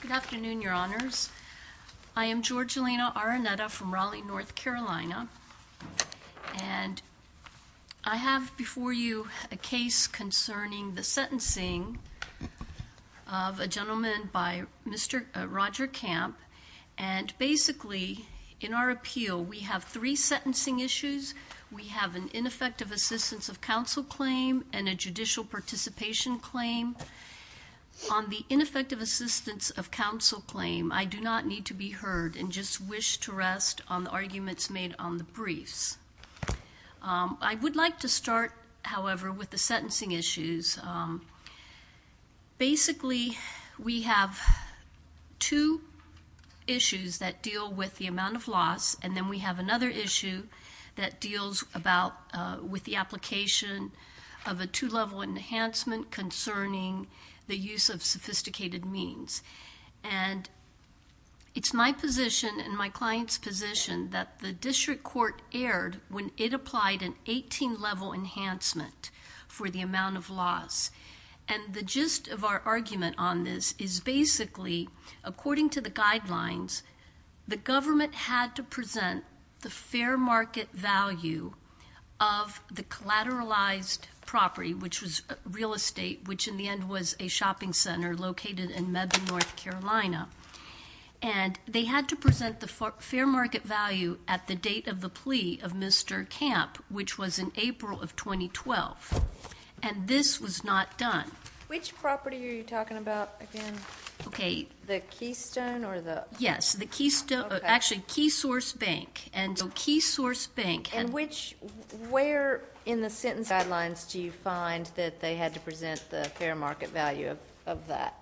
Good afternoon, Your Honors. I am Georgina Araneta from Raleigh, North Carolina, and I have before you a case concerning the sentencing of a gentleman by Mr. Roger Camp. And basically, in our appeal, we have three sentencing issues. We have an ineffective assistance of counsel claim and a judicial participation claim. On the ineffective assistance of counsel claim, I do not need to be heard and just wish to rest on the arguments made on the briefs. I would like to start, however, with the sentencing issues. Basically, we have two issues that deal with the amount of loss, and then we have another issue that deals with the application of a two-level enhancement concerning the use of sophisticated means. And it's my position and my client's position that the district court erred when it applied an 18-level enhancement for the amount of loss. And the gist of our argument on this is basically, according to the guidelines, the government had to present the fair market value of the collateralized property, which was real estate, which in the end was a shopping center located in Mebane, North Carolina. And they had to present the fair market value at the date of the plea of Mr. Camp, which was in April of 2012. And this was not done. Which property are you talking about again? Okay. The Keystone or the... Yes, the Keystone, actually, Keysource Bank. And Keysource Bank... And which, where in the sentencing guidelines do you find that they had to present the fair market value of that?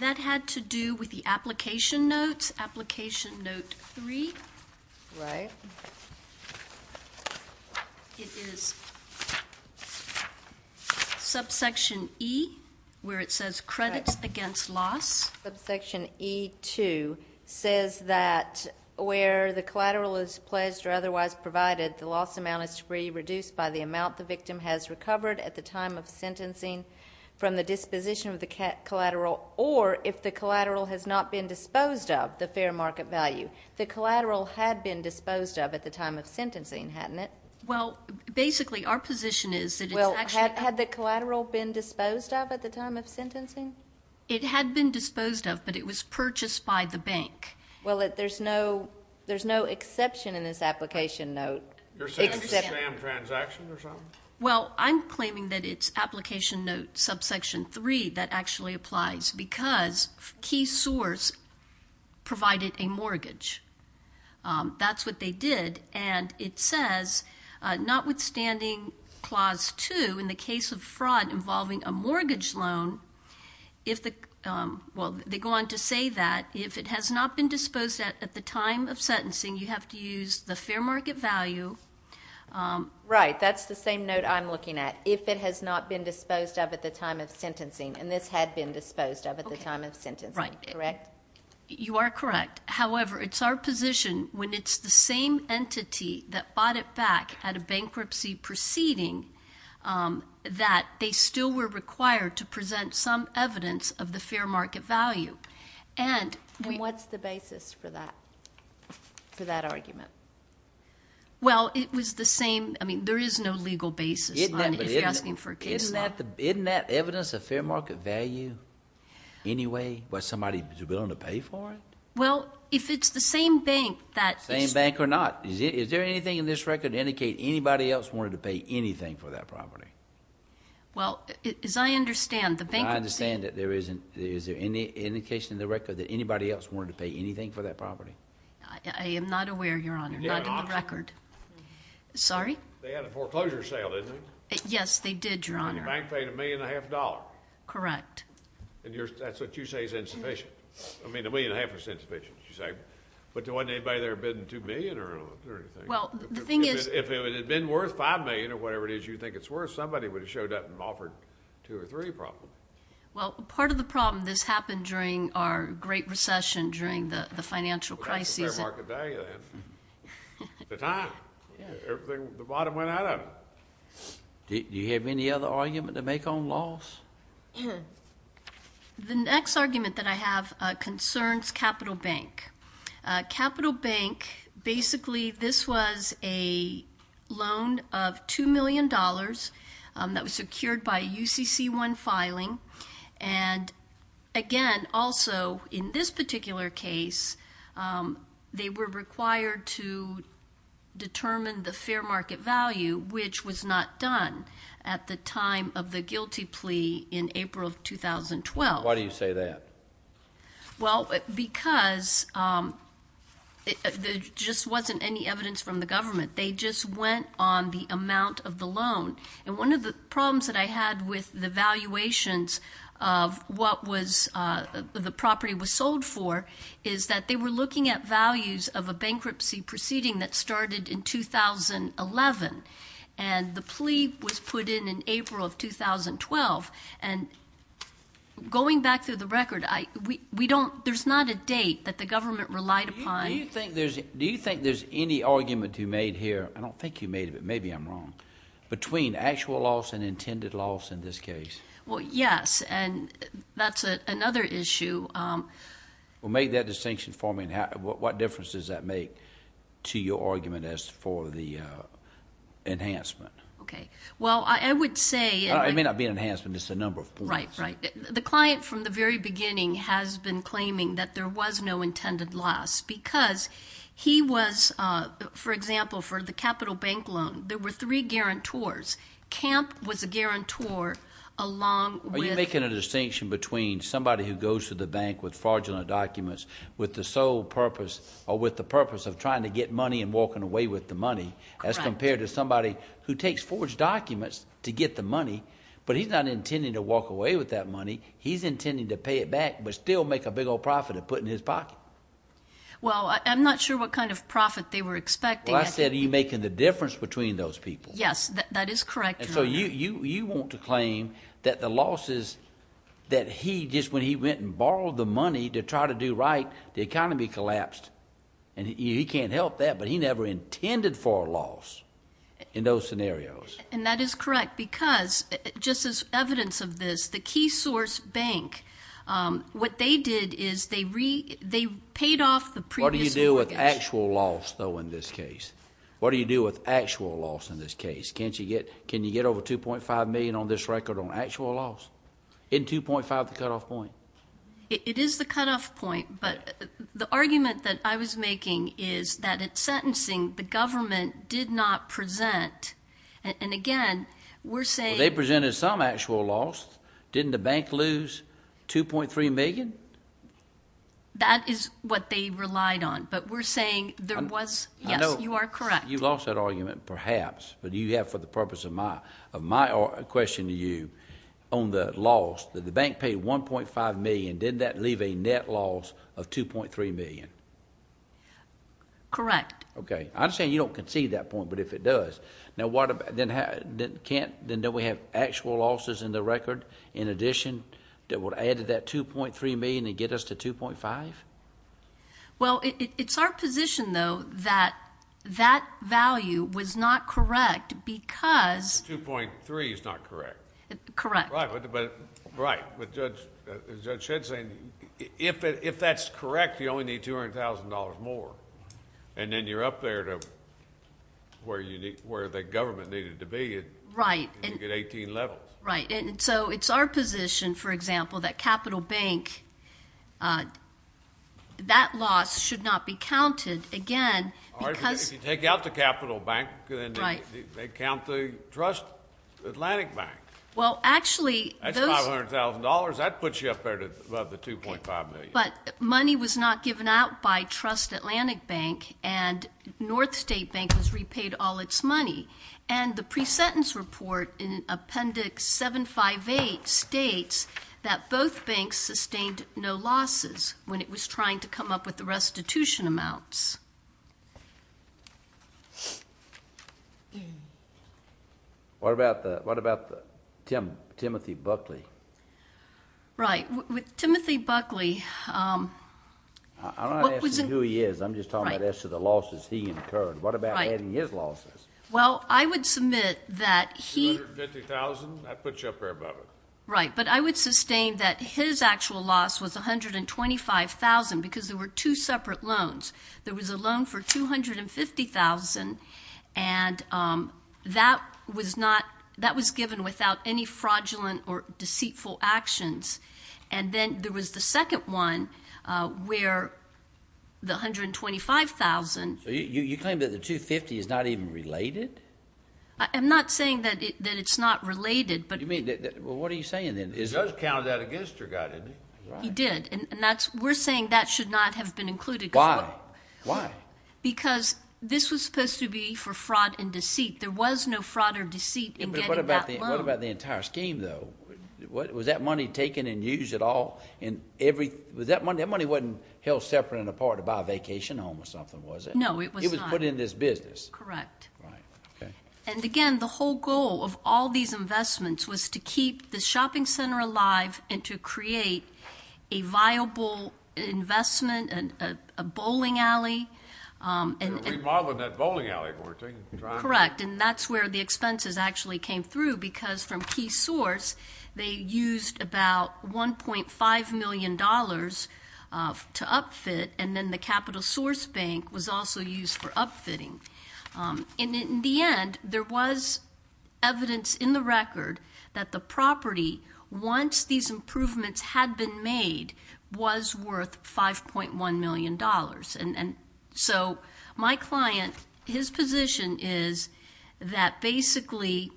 That had to do with the application notes, application note three. Right. It is subsection E, where it says credits against loss. Subsection E2 says that where the collateral is pledged or otherwise provided, the loss amount is to be reduced by the amount the victim has recovered at the time of sentencing from the disposition of the collateral, or if the collateral has not been disposed of, the fair market value. The collateral had been disposed of at the time of sentencing, hadn't it? Well, basically, our position is that it's actually... Well, had the collateral been disposed of at the time of sentencing? It had been disposed of, but it was purchased by the bank. Well, there's no exception in this application note. You're saying it's a scam transaction or something? Well, I'm claiming that it's application note subsection three that actually applies because key source provided a mortgage. That's what they did, and it says, notwithstanding clause two, in the case of fraud involving a mortgage loan, if the... well, they go on to say that if it has not been disposed of at the time of sentencing, you have to use the fair market value. Right. That's the same note I'm looking at. If it has not been disposed of at the time of sentencing, and this had been disposed of at the time of sentencing, correct? You are correct. However, it's our position when it's the same entity that bought it back at a bankruptcy proceeding that they still were required to present some evidence of the fair market value. And what's the basis for that argument? Well, it was the same... I mean, there is no legal basis if you're asking for a case law. Isn't that evidence of fair market value anyway? Was somebody willing to pay for it? Well, if it's the same bank that... Same bank or not. Is there anything in this record to indicate anybody else wanted to pay anything for that property? Well, as I understand, the bankruptcy... I understand that there isn't. Is there any indication in the record that anybody else wanted to pay anything for that property? I am not aware, Your Honor. Not in the record. They had a foreclosure sale, didn't they? Yes, they did, Your Honor. And the bank paid $1.5 million. Correct. And that's what you say is insufficient. I mean, $1.5 million is insufficient, you say. But there wasn't anybody there bidding $2 million or anything. Well, the thing is... If it had been worth $5 million or whatever it is you think it's worth, somebody would have showed up and offered two or three problems. Well, part of the problem, this happened during our great recession, during the financial crisis. Well, that's the fair market value then. At the time, the bottom went out of it. Do you have any other argument to make on loss? The next argument that I have concerns Capital Bank. Capital Bank, basically, this was a loan of $2 million that was secured by a UCC-1 filing. And, again, also, in this particular case, they were required to determine the fair market value, which was not done at the time of the guilty plea in April of 2012. Why do you say that? Well, because there just wasn't any evidence from the government. And one of the problems that I had with the valuations of what the property was sold for is that they were looking at values of a bankruptcy proceeding that started in 2011. And the plea was put in in April of 2012. And going back through the record, there's not a date that the government relied upon. Do you think there's any argument you made here? I don't think you made it, but maybe I'm wrong. Between actual loss and intended loss in this case? Well, yes, and that's another issue. Well, make that distinction for me. What difference does that make to your argument as for the enhancement? Okay. Well, I would say- It may not be an enhancement, just a number of points. Right, right. The client from the very beginning has been claiming that there was no intended loss because he was, for example, for the Capital Bank loan, there were three guarantors. Camp was a guarantor along with- Are you making a distinction between somebody who goes to the bank with fraudulent documents with the sole purpose or with the purpose of trying to get money and walking away with the money- Correct. As compared to somebody who takes forged documents to get the money, but he's not intending to walk away with that money. He's intending to pay it back but still make a big old profit of putting it in his pocket. Well, I'm not sure what kind of profit they were expecting. Well, I said are you making the difference between those people? Yes, that is correct, Your Honor. And so you want to claim that the losses that he just, when he went and borrowed the money to try to do right, the economy collapsed and he can't help that, but he never intended for a loss in those scenarios. And that is correct because just as evidence of this, the Key Source Bank, what they did is they paid off the previous mortgage. What do you do with actual loss, though, in this case? What do you do with actual loss in this case? Can you get over $2.5 million on this record on actual loss? Isn't $2.5 the cutoff point? It is the cutoff point, but the argument that I was making is that at sentencing, the government did not present. And, again, we're saying- They presented some actual loss. Didn't the bank lose $2.3 million? That is what they relied on, but we're saying there was- I know- Yes, you are correct. You lost that argument, perhaps, but you have, for the purpose of my question to you, on the loss, that the bank paid $1.5 million, didn't that leave a net loss of $2.3 million? Correct. Okay. I'm saying you don't concede that point, but if it does, then don't we have actual losses in the record, in addition, that would add to that $2.3 million and get us to $2.5? Well, it's our position, though, that that value was not correct because- $2.3 is not correct. Correct. Right. As Judge Shedd said, if that's correct, you only need $200,000 more, and then you're up there to where the government needed to be. Right. And you get 18 levels. Right. And so it's our position, for example, that Capital Bank, that loss should not be counted, again, because- If you take out the Capital Bank, they count the Trust Atlantic Bank. Well, actually, those- $2.5 million, that puts you up there above the $2.5 million. But money was not given out by Trust Atlantic Bank, and North State Bank has repaid all its money. And the pre-sentence report in Appendix 758 states that both banks sustained no losses when it was trying to come up with the restitution amounts. What about Timothy Buckley? Right. Timothy Buckley- I'm not asking who he is. I'm just talking about as to the losses he incurred. What about adding his losses? Well, I would submit that he- $250,000, that puts you up there above it. Right. But I would sustain that his actual loss was $125,000 because there were two separate loans. There was a loan for $250,000, and that was not-that was given without any fraudulent or deceitful actions. And then there was the second one where the $125,000- So you claim that the $250,000 is not even related? I'm not saying that it's not related, but- You mean-well, what are you saying, then? He does count that against your guy, didn't he? He did, and that's-we're saying that should not have been included. Why? Why? Because this was supposed to be for fraud and deceit. There was no fraud or deceit in getting that loan. But what about the entire scheme, though? Was that money taken and used at all? And every-was that money-that money wasn't held separate and apart to buy a vacation home or something, was it? No, it was not. It was put in this business. Correct. Right. Okay. And, again, the whole goal of all these investments was to keep the shopping center alive and to create a viable investment, a bowling alley. And remodeling that bowling alley, weren't they? Correct. And that's where the expenses actually came through, because from Key Source, they used about $1.5 million to upfit, and then the Capital Source Bank was also used for upfitting. In the end, there was evidence in the record that the property, once these improvements had been made, was worth $5.1 million. And so my client, his position is that basically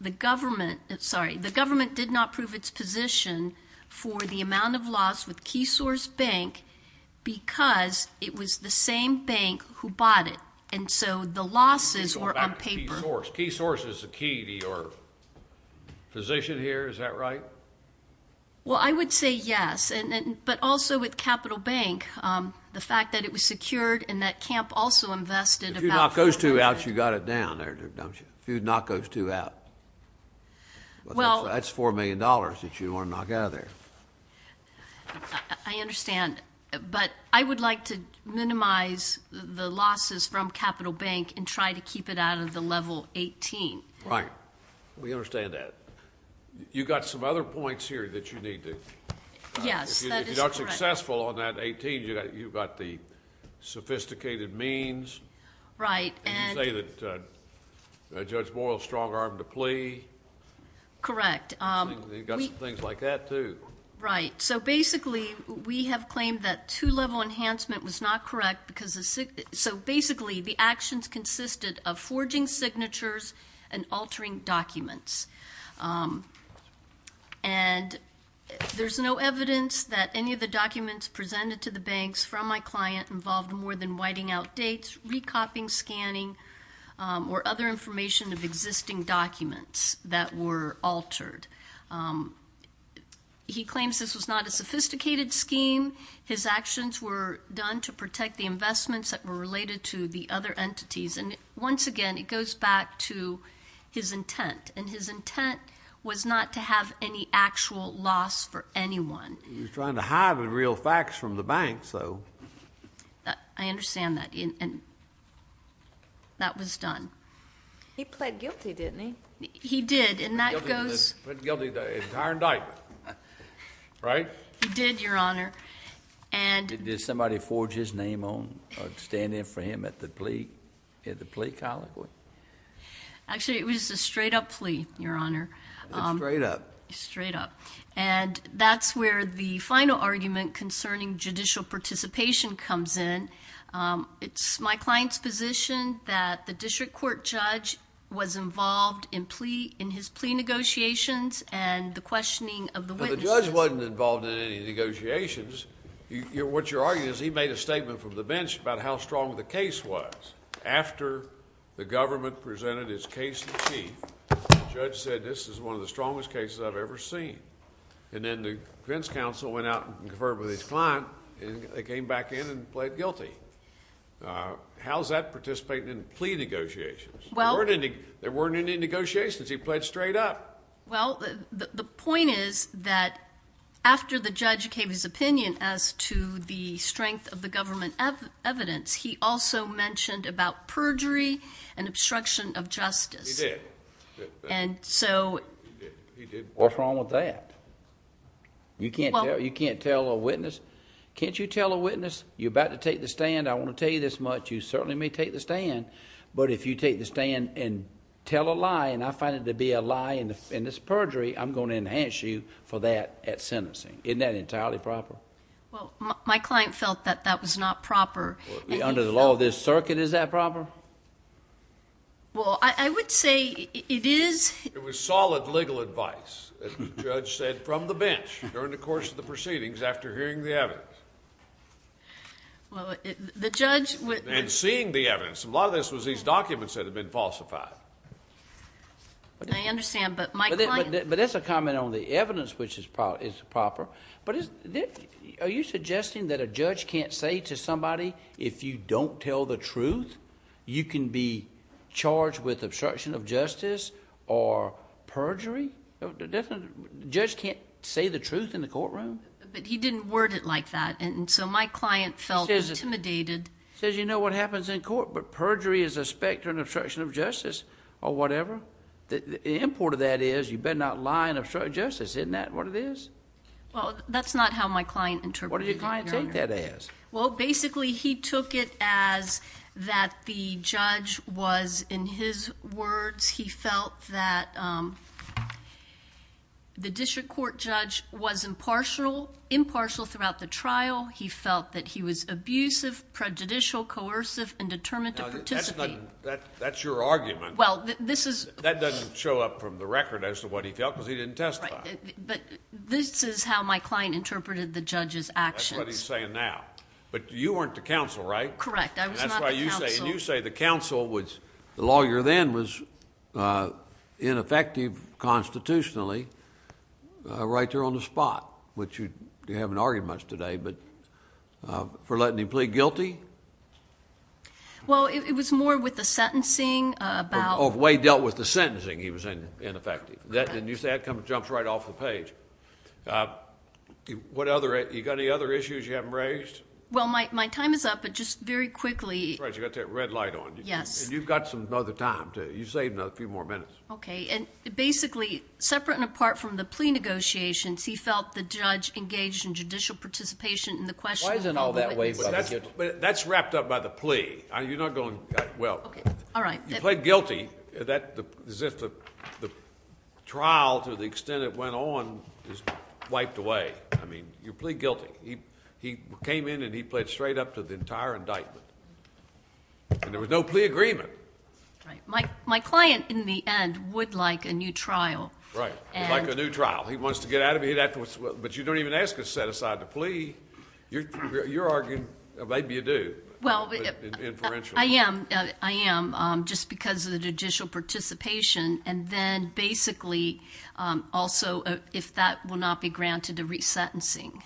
the government-sorry-the government did not prove its position for the amount of loss with Key Source Bank because it was the same bank who bought it. And so the losses were on paper. Key Source is the key to your position here. Is that right? Well, I would say yes. But also with Capital Bank, the fact that it was secured and that Camp also invested about- If you knock those two out, you've got it down there, don't you? If you knock those two out, that's $4 million that you want to knock out of there. I understand. But I would like to minimize the losses from Capital Bank and try to keep it out of the level 18. Right. We understand that. You've got some other points here that you need to- Yes, that is correct. If you're not successful on that 18, you've got the sophisticated means. Right. And you say that Judge Boyle strong-armed a plea. Correct. You've got some things like that, too. Right. So basically we have claimed that two-level enhancement was not correct because the- So basically the actions consisted of forging signatures and altering documents. And there's no evidence that any of the documents presented to the banks from my client involved more than whiting out dates, recopying, scanning, or other information of existing documents that were altered. He claims this was not a sophisticated scheme. His actions were done to protect the investments that were related to the other entities. And once again, it goes back to his intent. And his intent was not to have any actual loss for anyone. He was trying to hide the real facts from the banks, though. I understand that. And that was done. He pled guilty, didn't he? He did. And that goes- He pled guilty to the entire indictment. Right? He did, Your Honor. Did somebody forge his name on or stand in for him at the plea colloquy? Actually, it was a straight-up plea, Your Honor. A straight-up? A straight-up. And that's where the final argument concerning judicial participation comes in. It's my client's position that the district court judge was involved in his plea negotiations and the questioning of the witnesses- What you're arguing is he made a statement from the bench about how strong the case was. After the government presented its case in chief, the judge said this is one of the strongest cases I've ever seen. And then the defense counsel went out and conferred with his client, and they came back in and pled guilty. How's that participating in plea negotiations? There weren't any negotiations. He pled straight up. Well, the point is that after the judge gave his opinion as to the strength of the government evidence, he also mentioned about perjury and obstruction of justice. He did. And so- He did. What's wrong with that? You can't tell a witness. Can't you tell a witness? You're about to take the stand. I want to tell you this much. You certainly may take the stand. But if you take the stand and tell a lie, and I find it to be a lie, and it's perjury, I'm going to enhance you for that at sentencing. Isn't that entirely proper? Well, my client felt that that was not proper. Under the law of this circuit, is that proper? Well, I would say it is. It was solid legal advice, as the judge said, from the bench during the course of the proceedings after hearing the evidence. Well, the judge- And seeing the evidence. A lot of this was these documents that had been falsified. I understand. But my client- But that's a comment on the evidence, which is proper. But are you suggesting that a judge can't say to somebody, if you don't tell the truth, you can be charged with obstruction of justice or perjury? A judge can't say the truth in the courtroom? But he didn't word it like that. And so my client felt intimidated. He says, you know what happens in court, but perjury is a specter and obstruction of justice or whatever. The import of that is you better not lie and obstruct justice. Isn't that what it is? Well, that's not how my client interpreted it, Your Honor. What did your client take that as? Well, basically, he took it as that the judge was, in his words, he felt that the district court judge was impartial throughout the trial. He felt that he was abusive, prejudicial, coercive, and determined to participate. That's your argument. Well, this is- That doesn't show up from the record as to what he felt because he didn't testify. But this is how my client interpreted the judge's actions. That's what he's saying now. But you weren't the counsel, right? Correct. I was not the counsel. The lawyer then was ineffective constitutionally right there on the spot, which you haven't argued much today, but for letting him plead guilty? Well, it was more with the sentencing about- Oh, the way he dealt with the sentencing he was ineffective. Correct. And that jumps right off the page. You got any other issues you haven't raised? Well, my time is up, but just very quickly- And you've got some other time, too. You save a few more minutes. Okay. And basically, separate and apart from the plea negotiations, he felt the judge engaged in judicial participation in the question- Why is it all that way? That's wrapped up by the plea. You're not going- Okay. All right. You plead guilty. The trial, to the extent it went on, is wiped away. I mean, you plead guilty. He came in and he pled straight up to the entire indictment. And there was no plea agreement. Right. My client, in the end, would like a new trial. Right. He'd like a new trial. He wants to get out of it. But you don't even ask a set-aside to plea. You're arguing, or maybe you do, inferentially. I am, just because of the judicial participation. And then, basically, also, if that will not be granted, a resentencing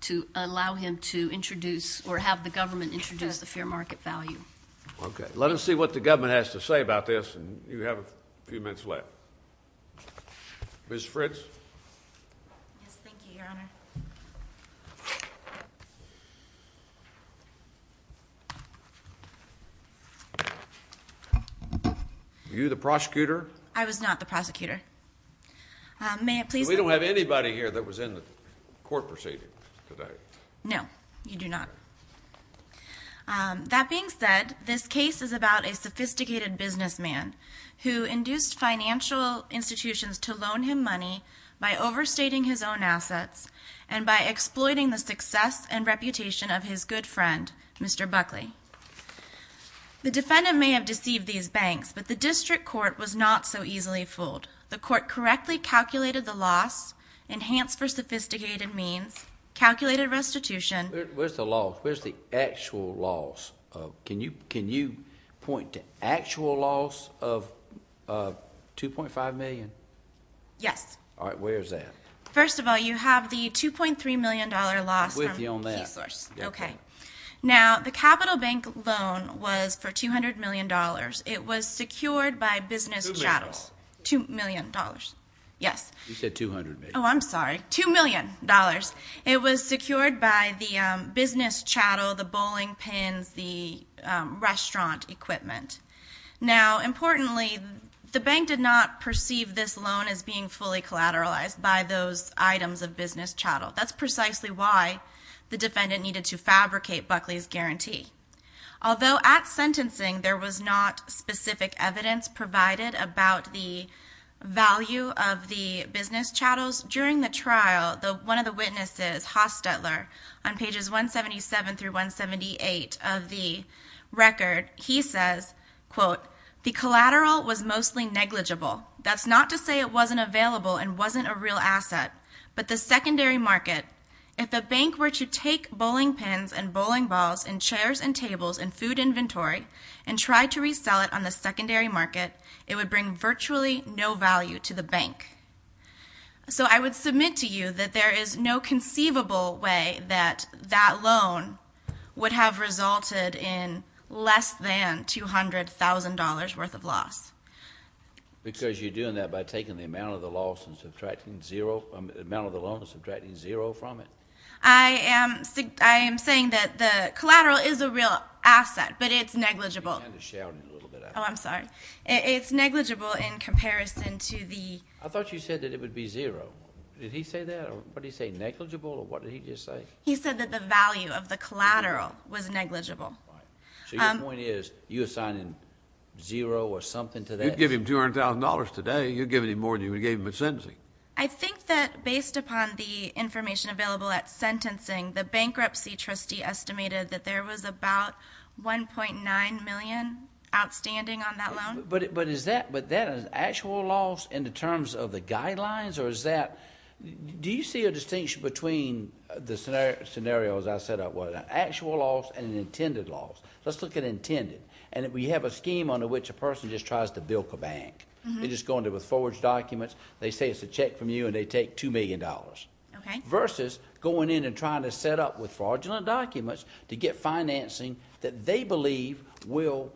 to allow him to introduce or have the government introduce the fair market value. Okay. Let us see what the government has to say about this. And you have a few minutes left. Ms. Fritz? Yes, thank you, Your Honor. Thank you, Your Honor. Were you the prosecutor? I was not the prosecutor. May I please? We don't have anybody here that was in the court proceeding today. No, you do not. That being said, this case is about a sophisticated businessman who induced financial institutions to loan him money by overstating his own assets and by exploiting the success and reputation of his good friend, Mr. Buckley. The defendant may have deceived these banks, but the district court was not so easily fooled. The court correctly calculated the loss, enhanced for sophisticated means, calculated restitution. Where's the loss? Where's the actual loss? Can you point to actual loss of $2.5 million? Yes. All right. Where is that? First of all, you have the $2.3 million loss. I'm with you on that. Okay. Now, the capital bank loan was for $200 million. It was secured by business chattels. $2 million. $2 million. Yes. You said $200 million. Oh, I'm sorry. $2 million. It was secured by the business chattel, the bowling pins, the restaurant equipment. Now, importantly, the bank did not perceive this loan as being fully collateralized by those items of business chattel. That's precisely why the defendant needed to fabricate Buckley's guarantee. Although at sentencing there was not specific evidence provided about the value of the business chattels, during the trial, one of the witnesses, Haas-Stetler, on pages 177 through 178 of the record, he says, quote, the collateral was mostly negligible. That's not to say it wasn't available and wasn't a real asset. But the secondary market, if the bank were to take bowling pins and bowling balls and chairs and tables and food inventory and try to resell it on the secondary market, it would bring virtually no value to the bank. So I would submit to you that there is no conceivable way that that loan would have resulted in less than $200,000 worth of loss. Because you're doing that by taking the amount of the loss and subtracting zero from it? I am saying that the collateral is a real asset, but it's negligible. You're kind of shouting a little bit. Oh, I'm sorry. It's negligible in comparison to the- I thought you said that it would be zero. Did he say that? What did he say, negligible, or what did he just say? He said that the value of the collateral was negligible. So your point is you're assigning zero or something to that? You'd give him $200,000 today. You'd give him more than you would give him at sentencing. I think that based upon the information available at sentencing, the bankruptcy trustee estimated that there was about $1.9 million outstanding on that loan. But is that an actual loss in terms of the guidelines, or is that- Do you see a distinction between the scenarios I set up with an actual loss and an intended loss? Let's look at intended. And we have a scheme under which a person just tries to bilk a bank. They just go in there with forged documents. They say it's a check from you, and they take $2 million. Okay. Versus going in and trying to set up with fraudulent documents to get financing that they believe will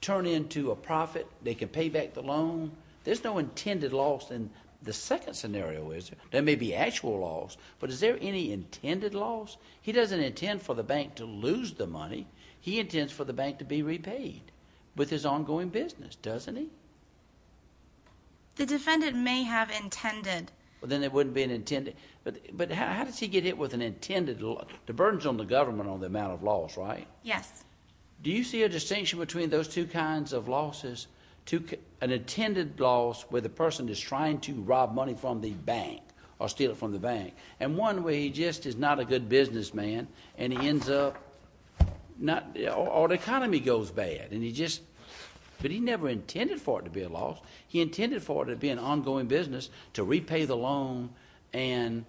turn into a profit. They can pay back the loan. There's no intended loss. And the second scenario is there may be actual loss, but is there any intended loss? He doesn't intend for the bank to lose the money. He intends for the bank to be repaid with his ongoing business, doesn't he? The defendant may have intended. Then it wouldn't be an intended. But how does he get hit with an intended loss? The burden's on the government on the amount of loss, right? Yes. Do you see a distinction between those two kinds of losses, an intended loss where the person is trying to rob money from the bank or steal it from the bank, and one where he just is not a good businessman and he ends up not—or the economy goes bad, and he just—but he never intended for it to be a loss. He intended for it to be an ongoing business to repay the loan and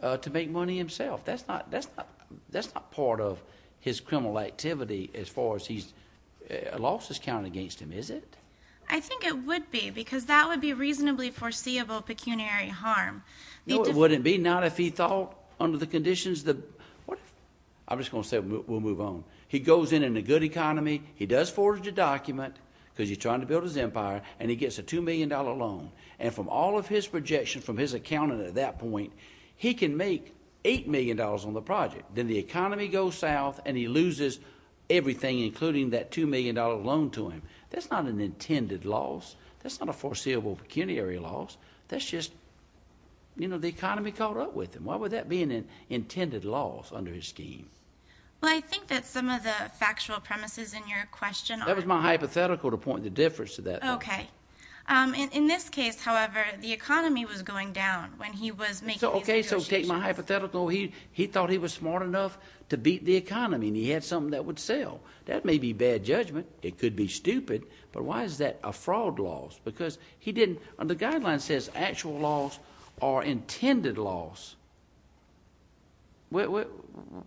to make money himself. That's not part of his criminal activity as far as he's—losses count against him, is it? I think it would be because that would be reasonably foreseeable pecuniary harm. No, it wouldn't be, not if he thought under the conditions that—I'm just going to say we'll move on. He goes in in a good economy. He does forge a document because he's trying to build his empire, and he gets a $2 million loan. And from all of his projections from his accountant at that point, he can make $8 million on the project. Then the economy goes south, and he loses everything, including that $2 million loan to him. That's not an intended loss. That's not a foreseeable pecuniary loss. That's just, you know, the economy caught up with him. Why would that be an intended loss under his scheme? Well, I think that some of the factual premises in your question are— That was my hypothetical to point the difference to that. OK. In this case, however, the economy was going down when he was making these negotiations. OK, so take my hypothetical. He thought he was smart enough to beat the economy, and he had something that would sell. That may be bad judgment. It could be stupid. But why is that a fraud loss? Because he didn't—the guideline says actual loss or intended loss. What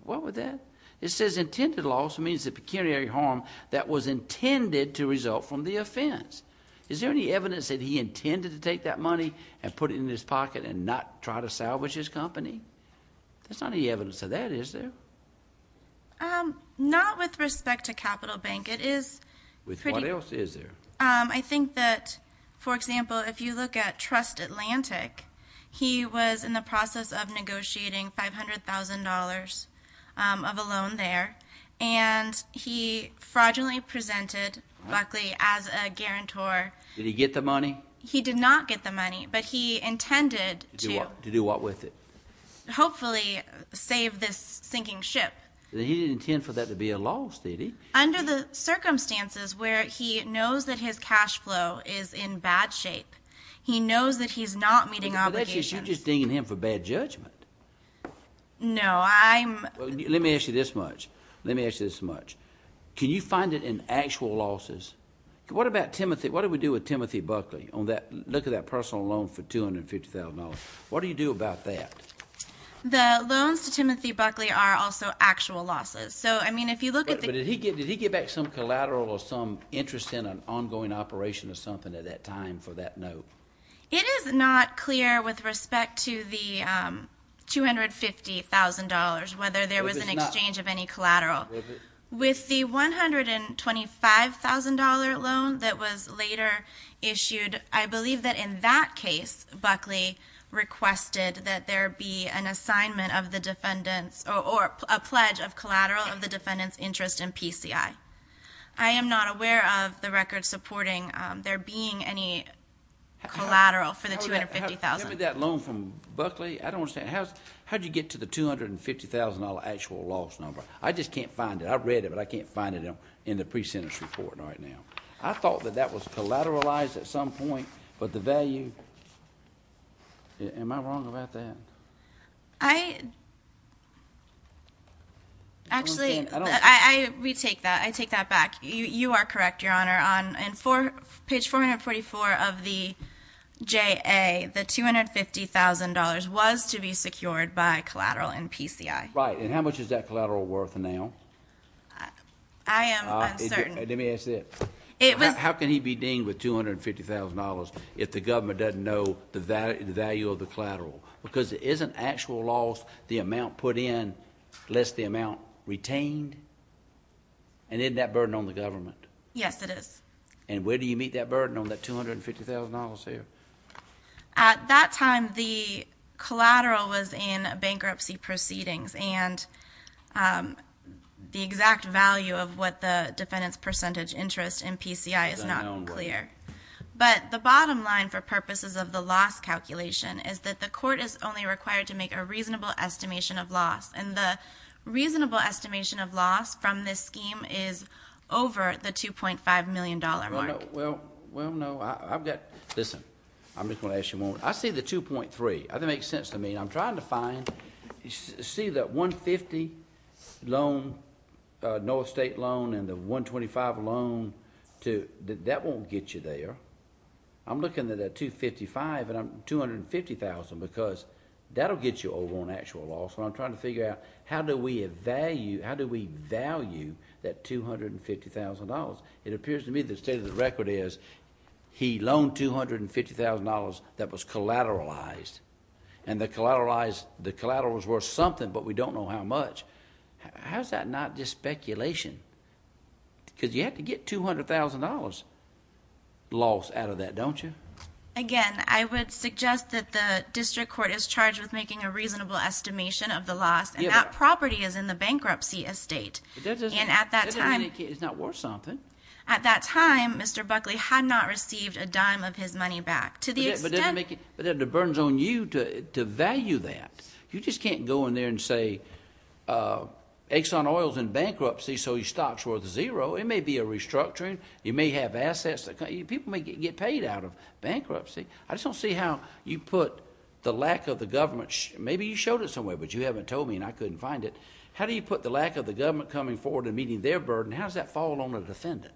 was that? It says intended loss means the pecuniary harm that was intended to result from the offense. Is there any evidence that he intended to take that money and put it in his pocket and not try to salvage his company? There's not any evidence of that, is there? Not with respect to Capital Bank. It is pretty— With what else is there? I think that, for example, if you look at Trust Atlantic, he was in the process of negotiating $500,000 of a loan there. And he fraudulently presented Buckley as a guarantor. Did he get the money? He did not get the money, but he intended to— To do what with it? Hopefully save this sinking ship. But he didn't intend for that to be a loss, did he? Under the circumstances where he knows that his cash flow is in bad shape. He knows that he's not meeting obligations. But that's just—you're just dinging him for bad judgment. No, I'm— Let me ask you this much. Let me ask you this much. Can you find it in actual losses? What about Timothy—what did we do with Timothy Buckley on that—look at that personal loan for $250,000? What do you do about that? The loans to Timothy Buckley are also actual losses. So, I mean, if you look at the— But did he get back some collateral or some interest in an ongoing operation or something at that time for that note? It is not clear with respect to the $250,000 whether there was an exchange of any collateral. With the $125,000 loan that was later issued, I believe that in that case, Buckley requested that there be an assignment of the defendant's or a pledge of collateral of the defendant's interest in PCI. I am not aware of the record supporting there being any collateral for the $250,000. Give me that loan from Buckley. I don't understand. How did you get to the $250,000 actual loss number? I just can't find it. I read it, but I can't find it in the pre-sentence report right now. I thought that that was collateralized at some point, but the value—am I wrong about that? I—actually, I retake that. I take that back. You are correct, Your Honor. On page 444 of the JA, the $250,000 was to be secured by collateral in PCI. Right, and how much is that collateral worth now? I am uncertain. Let me ask you this. How can he be deemed with $250,000 if the government doesn't know the value of the collateral? Because isn't actual loss the amount put in less the amount retained? And isn't that burden on the government? Yes, it is. And where do you meet that burden on that $250,000 there? At that time, the collateral was in bankruptcy proceedings, and the exact value of what the defendant's percentage interest in PCI is not clear. But the bottom line for purposes of the loss calculation is that the court is only required to make a reasonable estimation of loss, and the reasonable estimation of loss from this scheme is over the $2.5 million mark. Well, no. I've got—listen. I'm just going to ask you a moment. I see the 2.3. That makes sense to me. I'm trying to find—see that $150,000 loan, North State loan, and the $125,000 loan. That won't get you there. I'm looking at that $255,000 and $250,000 because that will get you over on actual loss, and I'm trying to figure out how do we value that $250,000. It appears to me the state of the record is he loaned $250,000 that was collateralized, and the collateral was worth something but we don't know how much. How is that not just speculation? Because you have to get $200,000 loss out of that, don't you? Again, I would suggest that the district court is charged with making a reasonable estimation of the loss, and that property is in the bankruptcy estate. And at that time— It's not worth something. At that time, Mr. Buckley had not received a dime of his money back. But then the burden's on you to value that. You just can't go in there and say Exxon Oil's in bankruptcy, so his stock's worth zero. It may be a restructuring. You may have assets. People may get paid out of bankruptcy. I just don't see how you put the lack of the government— maybe you showed it somewhere, but you haven't told me, and I couldn't find it. How do you put the lack of the government coming forward and meeting their burden? How does that fall on a defendant?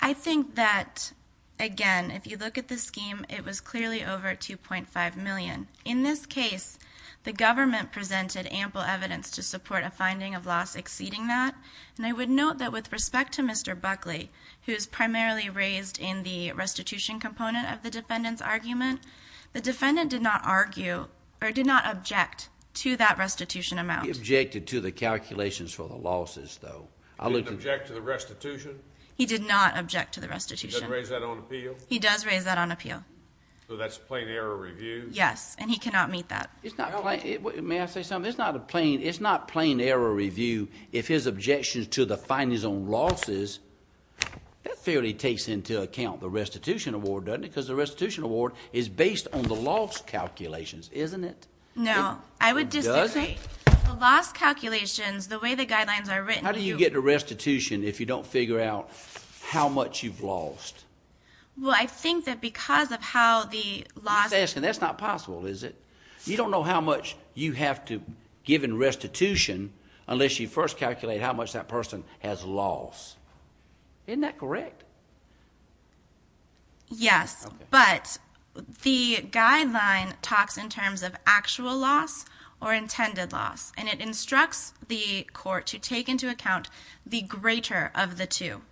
I think that, again, if you look at the scheme, it was clearly over $2.5 million. In this case, the government presented ample evidence to support a finding of loss exceeding that, and I would note that with respect to Mr. Buckley, who is primarily raised in the restitution component of the defendant's argument, the defendant did not argue or did not object to that restitution amount. He objected to the calculations for the losses, though. He didn't object to the restitution? He did not object to the restitution. He doesn't raise that on appeal? He does raise that on appeal. So that's a plain error review? Yes, and he cannot meet that. May I say something? It's not a plain error review if his objections to the findings on losses— that fairly takes into account the restitution award, doesn't it, because the restitution award is based on the loss calculations, isn't it? No, I would disagree. It doesn't? The loss calculations, the way the guidelines are written— How do you get the restitution if you don't figure out how much you've lost? Well, I think that because of how the loss— That's not possible, is it? You don't know how much you have to give in restitution unless you first calculate how much that person has lost. Isn't that correct? Yes, but the guideline talks in terms of actual loss or intended loss, and it instructs the court to take into account the greater of the two.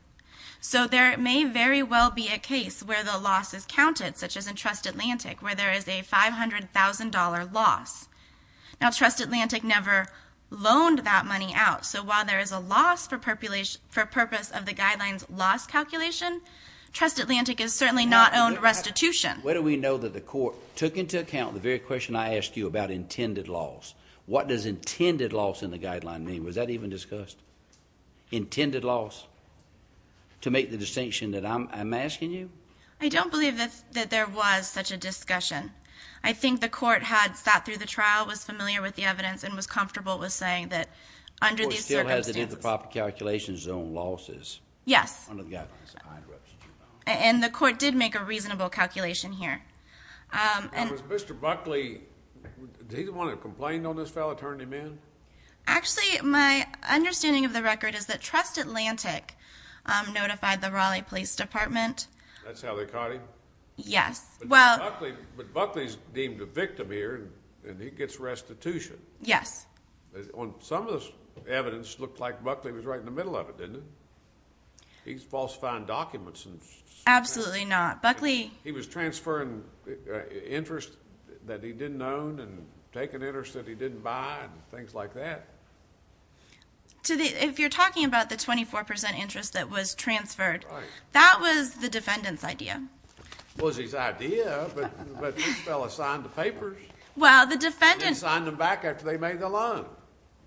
So there may very well be a case where the loss is counted, such as in Trust Atlantic, where there is a $500,000 loss. Now, Trust Atlantic never loaned that money out, so while there is a loss for purpose of the guideline's loss calculation, Trust Atlantic has certainly not owned restitution. How do we know that the court took into account the very question I asked you about intended loss? What does intended loss in the guideline mean? Was that even discussed? Intended loss, to make the distinction that I'm asking you? I don't believe that there was such a discussion. I think the court had sat through the trial, was familiar with the evidence, and was comfortable with saying that under these circumstances— The court still has it in the proper calculation zone, losses. Yes. And the court did make a reasonable calculation here. Now, does Mr. Buckley, did he want to complain on this fellow turning him in? Actually, my understanding of the record is that Trust Atlantic notified the Raleigh Police Department. That's how they caught him? Yes. But Buckley's deemed a victim here, and he gets restitution. Yes. Some of this evidence looked like Buckley was right in the middle of it, didn't it? These falsified documents. Absolutely not. Buckley— Interest that he didn't own and taken interest that he didn't buy and things like that. If you're talking about the 24% interest that was transferred, that was the defendant's idea. It was his idea, but this fellow signed the papers. Well, the defendant— He didn't sign them back after they made the loan.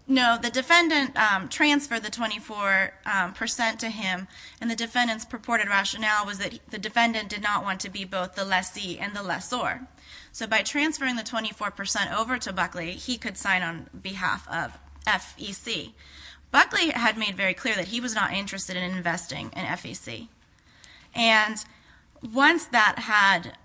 No, the defendant transferred the 24% to him, and the defendant's purported rationale was that the defendant did not want to be both the lessee and the lessor. So by transferring the 24% over to Buckley, he could sign on behalf of FEC. Buckley had made very clear that he was not interested in investing in FEC, and once that had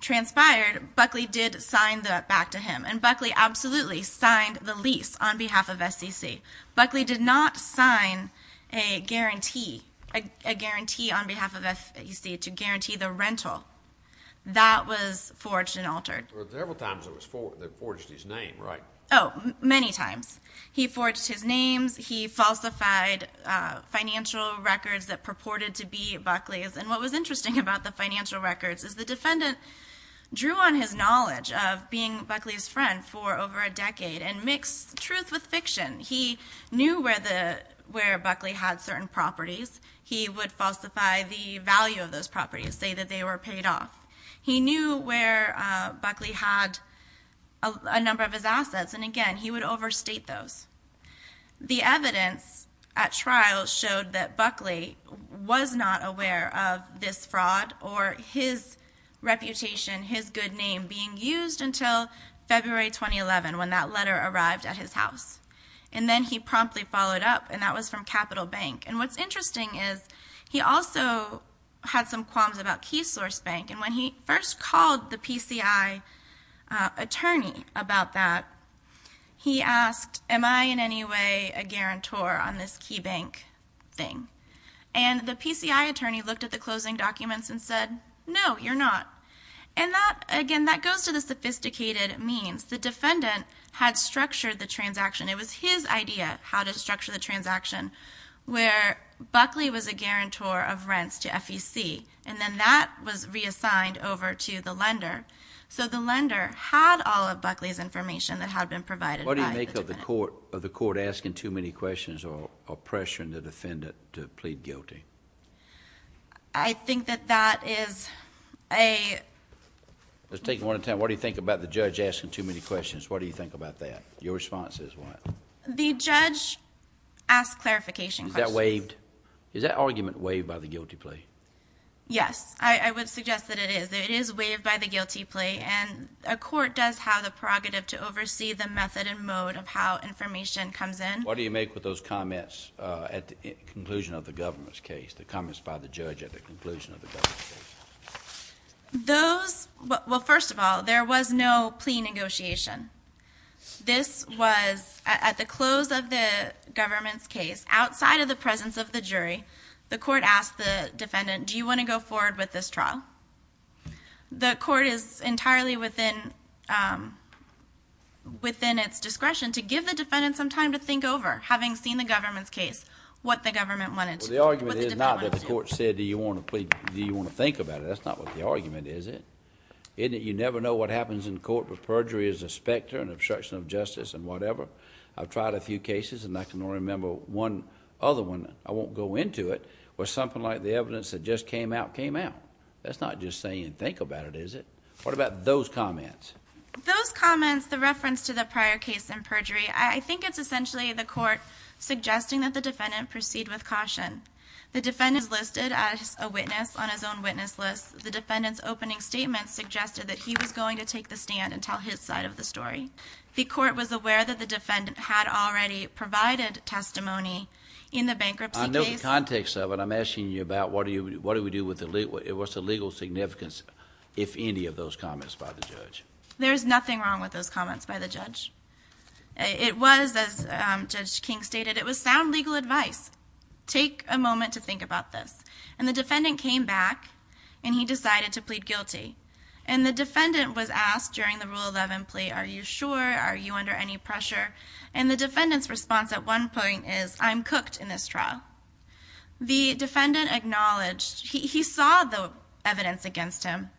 transpired, Buckley did sign that back to him, and Buckley absolutely signed the lease on behalf of SEC. Buckley did not sign a guarantee on behalf of FEC to guarantee the rental. That was forged and altered. There were several times that they forged his name, right? Oh, many times. He forged his names. He falsified financial records that purported to be Buckley's, and what was interesting about the financial records is the defendant drew on his knowledge of being Buckley's friend for over a decade and mixed truth with fiction. He knew where Buckley had certain properties. He would falsify the value of those properties, say that they were paid off. He knew where Buckley had a number of his assets, and again, he would overstate those. The evidence at trial showed that Buckley was not aware of this fraud or his reputation, his good name being used until February 2011 when that letter arrived at his house, and then he promptly followed up, and that was from Capital Bank, and what's interesting is he also had some qualms about Key Source Bank, and when he first called the PCI attorney about that, he asked, am I in any way a guarantor on this Key Bank thing? And the PCI attorney looked at the closing documents and said, no, you're not, and that, again, that goes to the sophisticated means. The defendant had structured the transaction. It was his idea how to structure the transaction where Buckley was a guarantor of rents to FEC, and then that was reassigned over to the lender, so the lender had all of Buckley's information that had been provided by the defendant. Is the court asking too many questions or pressuring the defendant to plead guilty? I think that that is a... Let's take one at a time. What do you think about the judge asking too many questions? What do you think about that? Your response is what? The judge asked clarification questions. Is that waived? Is that argument waived by the guilty plea? Yes, I would suggest that it is. It is waived by the guilty plea, and a court does have the prerogative to oversee the method and mode of how information comes in. What do you make with those comments at the conclusion of the government's case, the comments by the judge at the conclusion of the government's case? Those... well, first of all, there was no plea negotiation. This was at the close of the government's case, outside of the presence of the jury. The court asked the defendant, do you want to go forward with this trial? The court is entirely within its discretion to give the defendant some time to think over, having seen the government's case, what the government wanted to... Well, the argument is not that the court said, do you want to think about it? That's not what the argument is, is it? You never know what happens in court with perjury as a specter and obstruction of justice and whatever. I've tried a few cases, and I can only remember one other one. I won't go into it. Where something like the evidence that just came out, came out. That's not just saying, think about it, is it? What about those comments? Those comments, the reference to the prior case and perjury, I think it's essentially the court suggesting that the defendant proceed with caution. The defendant is listed as a witness on his own witness list. The defendant's opening statement suggested that he was going to take the stand and tell his side of the story. The court was aware that the defendant had already provided testimony in the bankruptcy case. I know the context of it. I'm asking you about what do we do with the... What's the legal significance, if any, of those comments by the judge? There's nothing wrong with those comments by the judge. It was, as Judge King stated, it was sound legal advice. Take a moment to think about this. And the defendant came back, and he decided to plead guilty. And the defendant was asked during the Rule 11 plea, are you sure? Are you under any pressure? And the defendant's response at one point is, I'm cooked in this trial. The defendant acknowledged, he saw the evidence against him,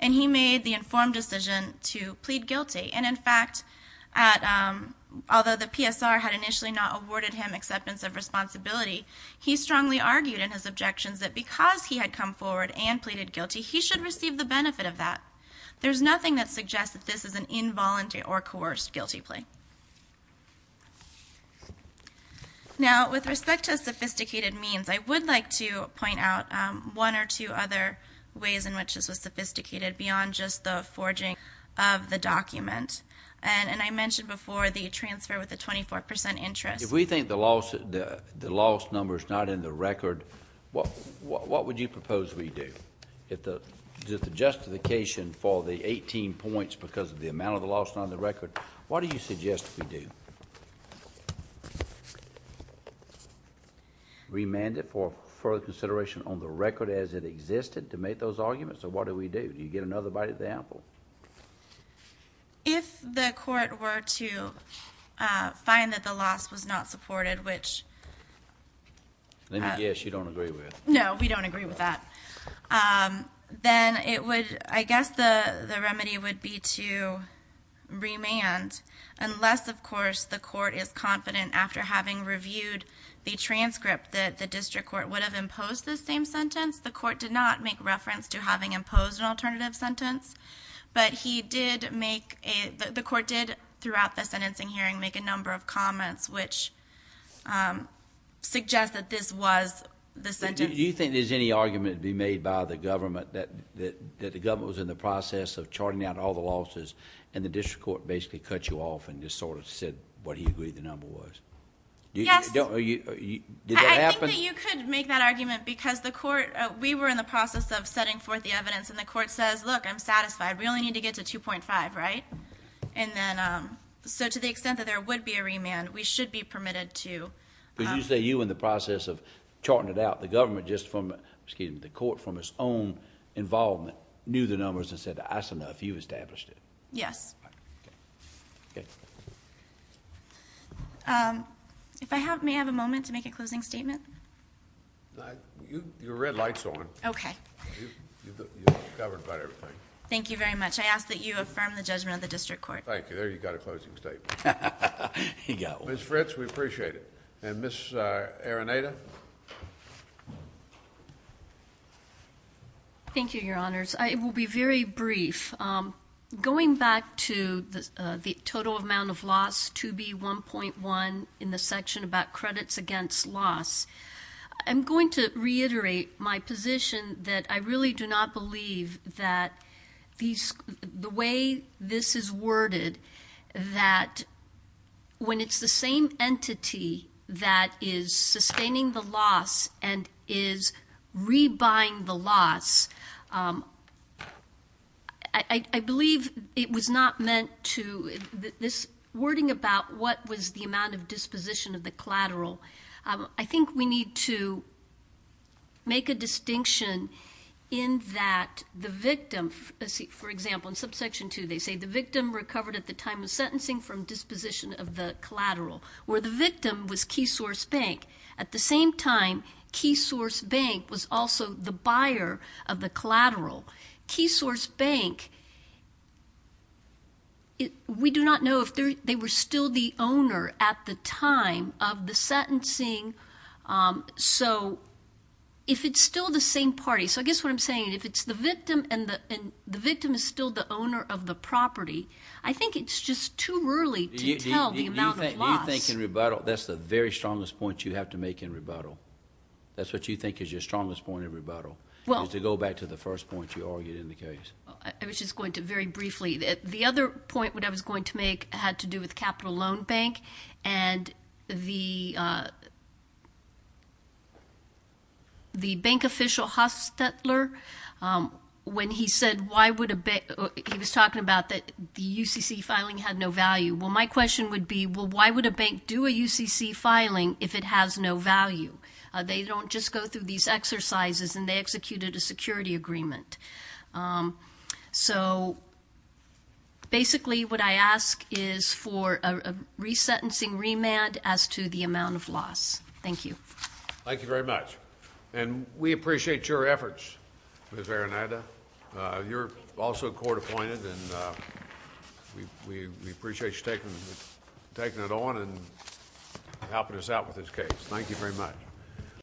and he made the informed decision to plead guilty. And, in fact, although the PSR had initially not awarded him acceptance of responsibility, he strongly argued in his objections that because he had come forward and pleaded guilty, he should receive the benefit of that. There's nothing that suggests that this is an involuntary or coerced guilty plea. Now, with respect to sophisticated means, I would like to point out one or two other ways in which this was sophisticated, beyond just the forging of the document. And I mentioned before the transfer with a 24% interest. If we think the loss number is not in the record, what would you propose we do? If the justification for the 18 points because of the amount of the loss is not in the record, what do you suggest we do? Remand it for further consideration on the record as it existed to make those arguments, or what do we do? Do you get another bite at the apple? If the court were to find that the loss was not supported, which- Yes, you don't agree with. No, we don't agree with that. Then it would, I guess the remedy would be to remand. Unless, of course, the court is confident after having reviewed the transcript that the district court would have imposed this same sentence. The court did not make reference to having imposed an alternative sentence. But the court did, throughout the sentencing hearing, make a number of comments which suggest that this was the sentence. Do you think there's any argument to be made by the government that the government was in the process of charting out all the losses, and the district court basically cut you off and just sort of said what he agreed the number was? Yes. Did that happen? I think that you could make that argument because we were in the process of setting forth the evidence, and the court says, look, I'm satisfied. We only need to get to 2.5, right? So to the extent that there would be a remand, we should be permitted to- Did you say you, in the process of charting it out, the government just from-excuse me, the court from its own involvement knew the numbers and said, that's enough. You established it. Yes. May I have a moment to make a closing statement? Your red light's on. Okay. You've covered about everything. Thank you very much. I ask that you affirm the judgment of the district court. Thank you. There you've got a closing statement. He got one. Ms. Fritz, we appreciate it. And Ms. Areneda? Thank you, Your Honors. I will be very brief. Going back to the total amount of loss, 2B1.1, in the section about credits against loss, I'm going to reiterate my position that I really do not believe that the way this is worded, that when it's the same entity that is sustaining the loss and is rebuying the loss, I believe it was not meant to-this wording about what was the amount of disposition of the collateral, I think we need to make a distinction in that the victim-for example, in subsection 2, they say the victim recovered at the time of sentencing from disposition of the collateral, where the victim was Keysource Bank. At the same time, Keysource Bank was also the buyer of the collateral. Keysource Bank, we do not know if they were still the owner at the time of the sentencing. So if it's still the same party-so I guess what I'm saying, if it's the victim and the victim is still the owner of the property, I think it's just too early to tell the amount of loss. Do you think in rebuttal-that's the very strongest point you have to make in rebuttal. Well- To go back to the first point you argued in the case. I was just going to very briefly-the other point that I was going to make had to do with Capital Loan Bank. And the bank official, Hustetler, when he said why would a bank-he was talking about the UCC filing had no value. Well, my question would be, well, why would a bank do a UCC filing if it has no value? They don't just go through these exercises and they executed a security agreement. So basically what I ask is for a resentencing remand as to the amount of loss. Thank you. Thank you very much. And we appreciate your efforts, Ms. Arenada. You're also court-appointed, and we appreciate you taking it on and helping us out with this case. Thank you very much.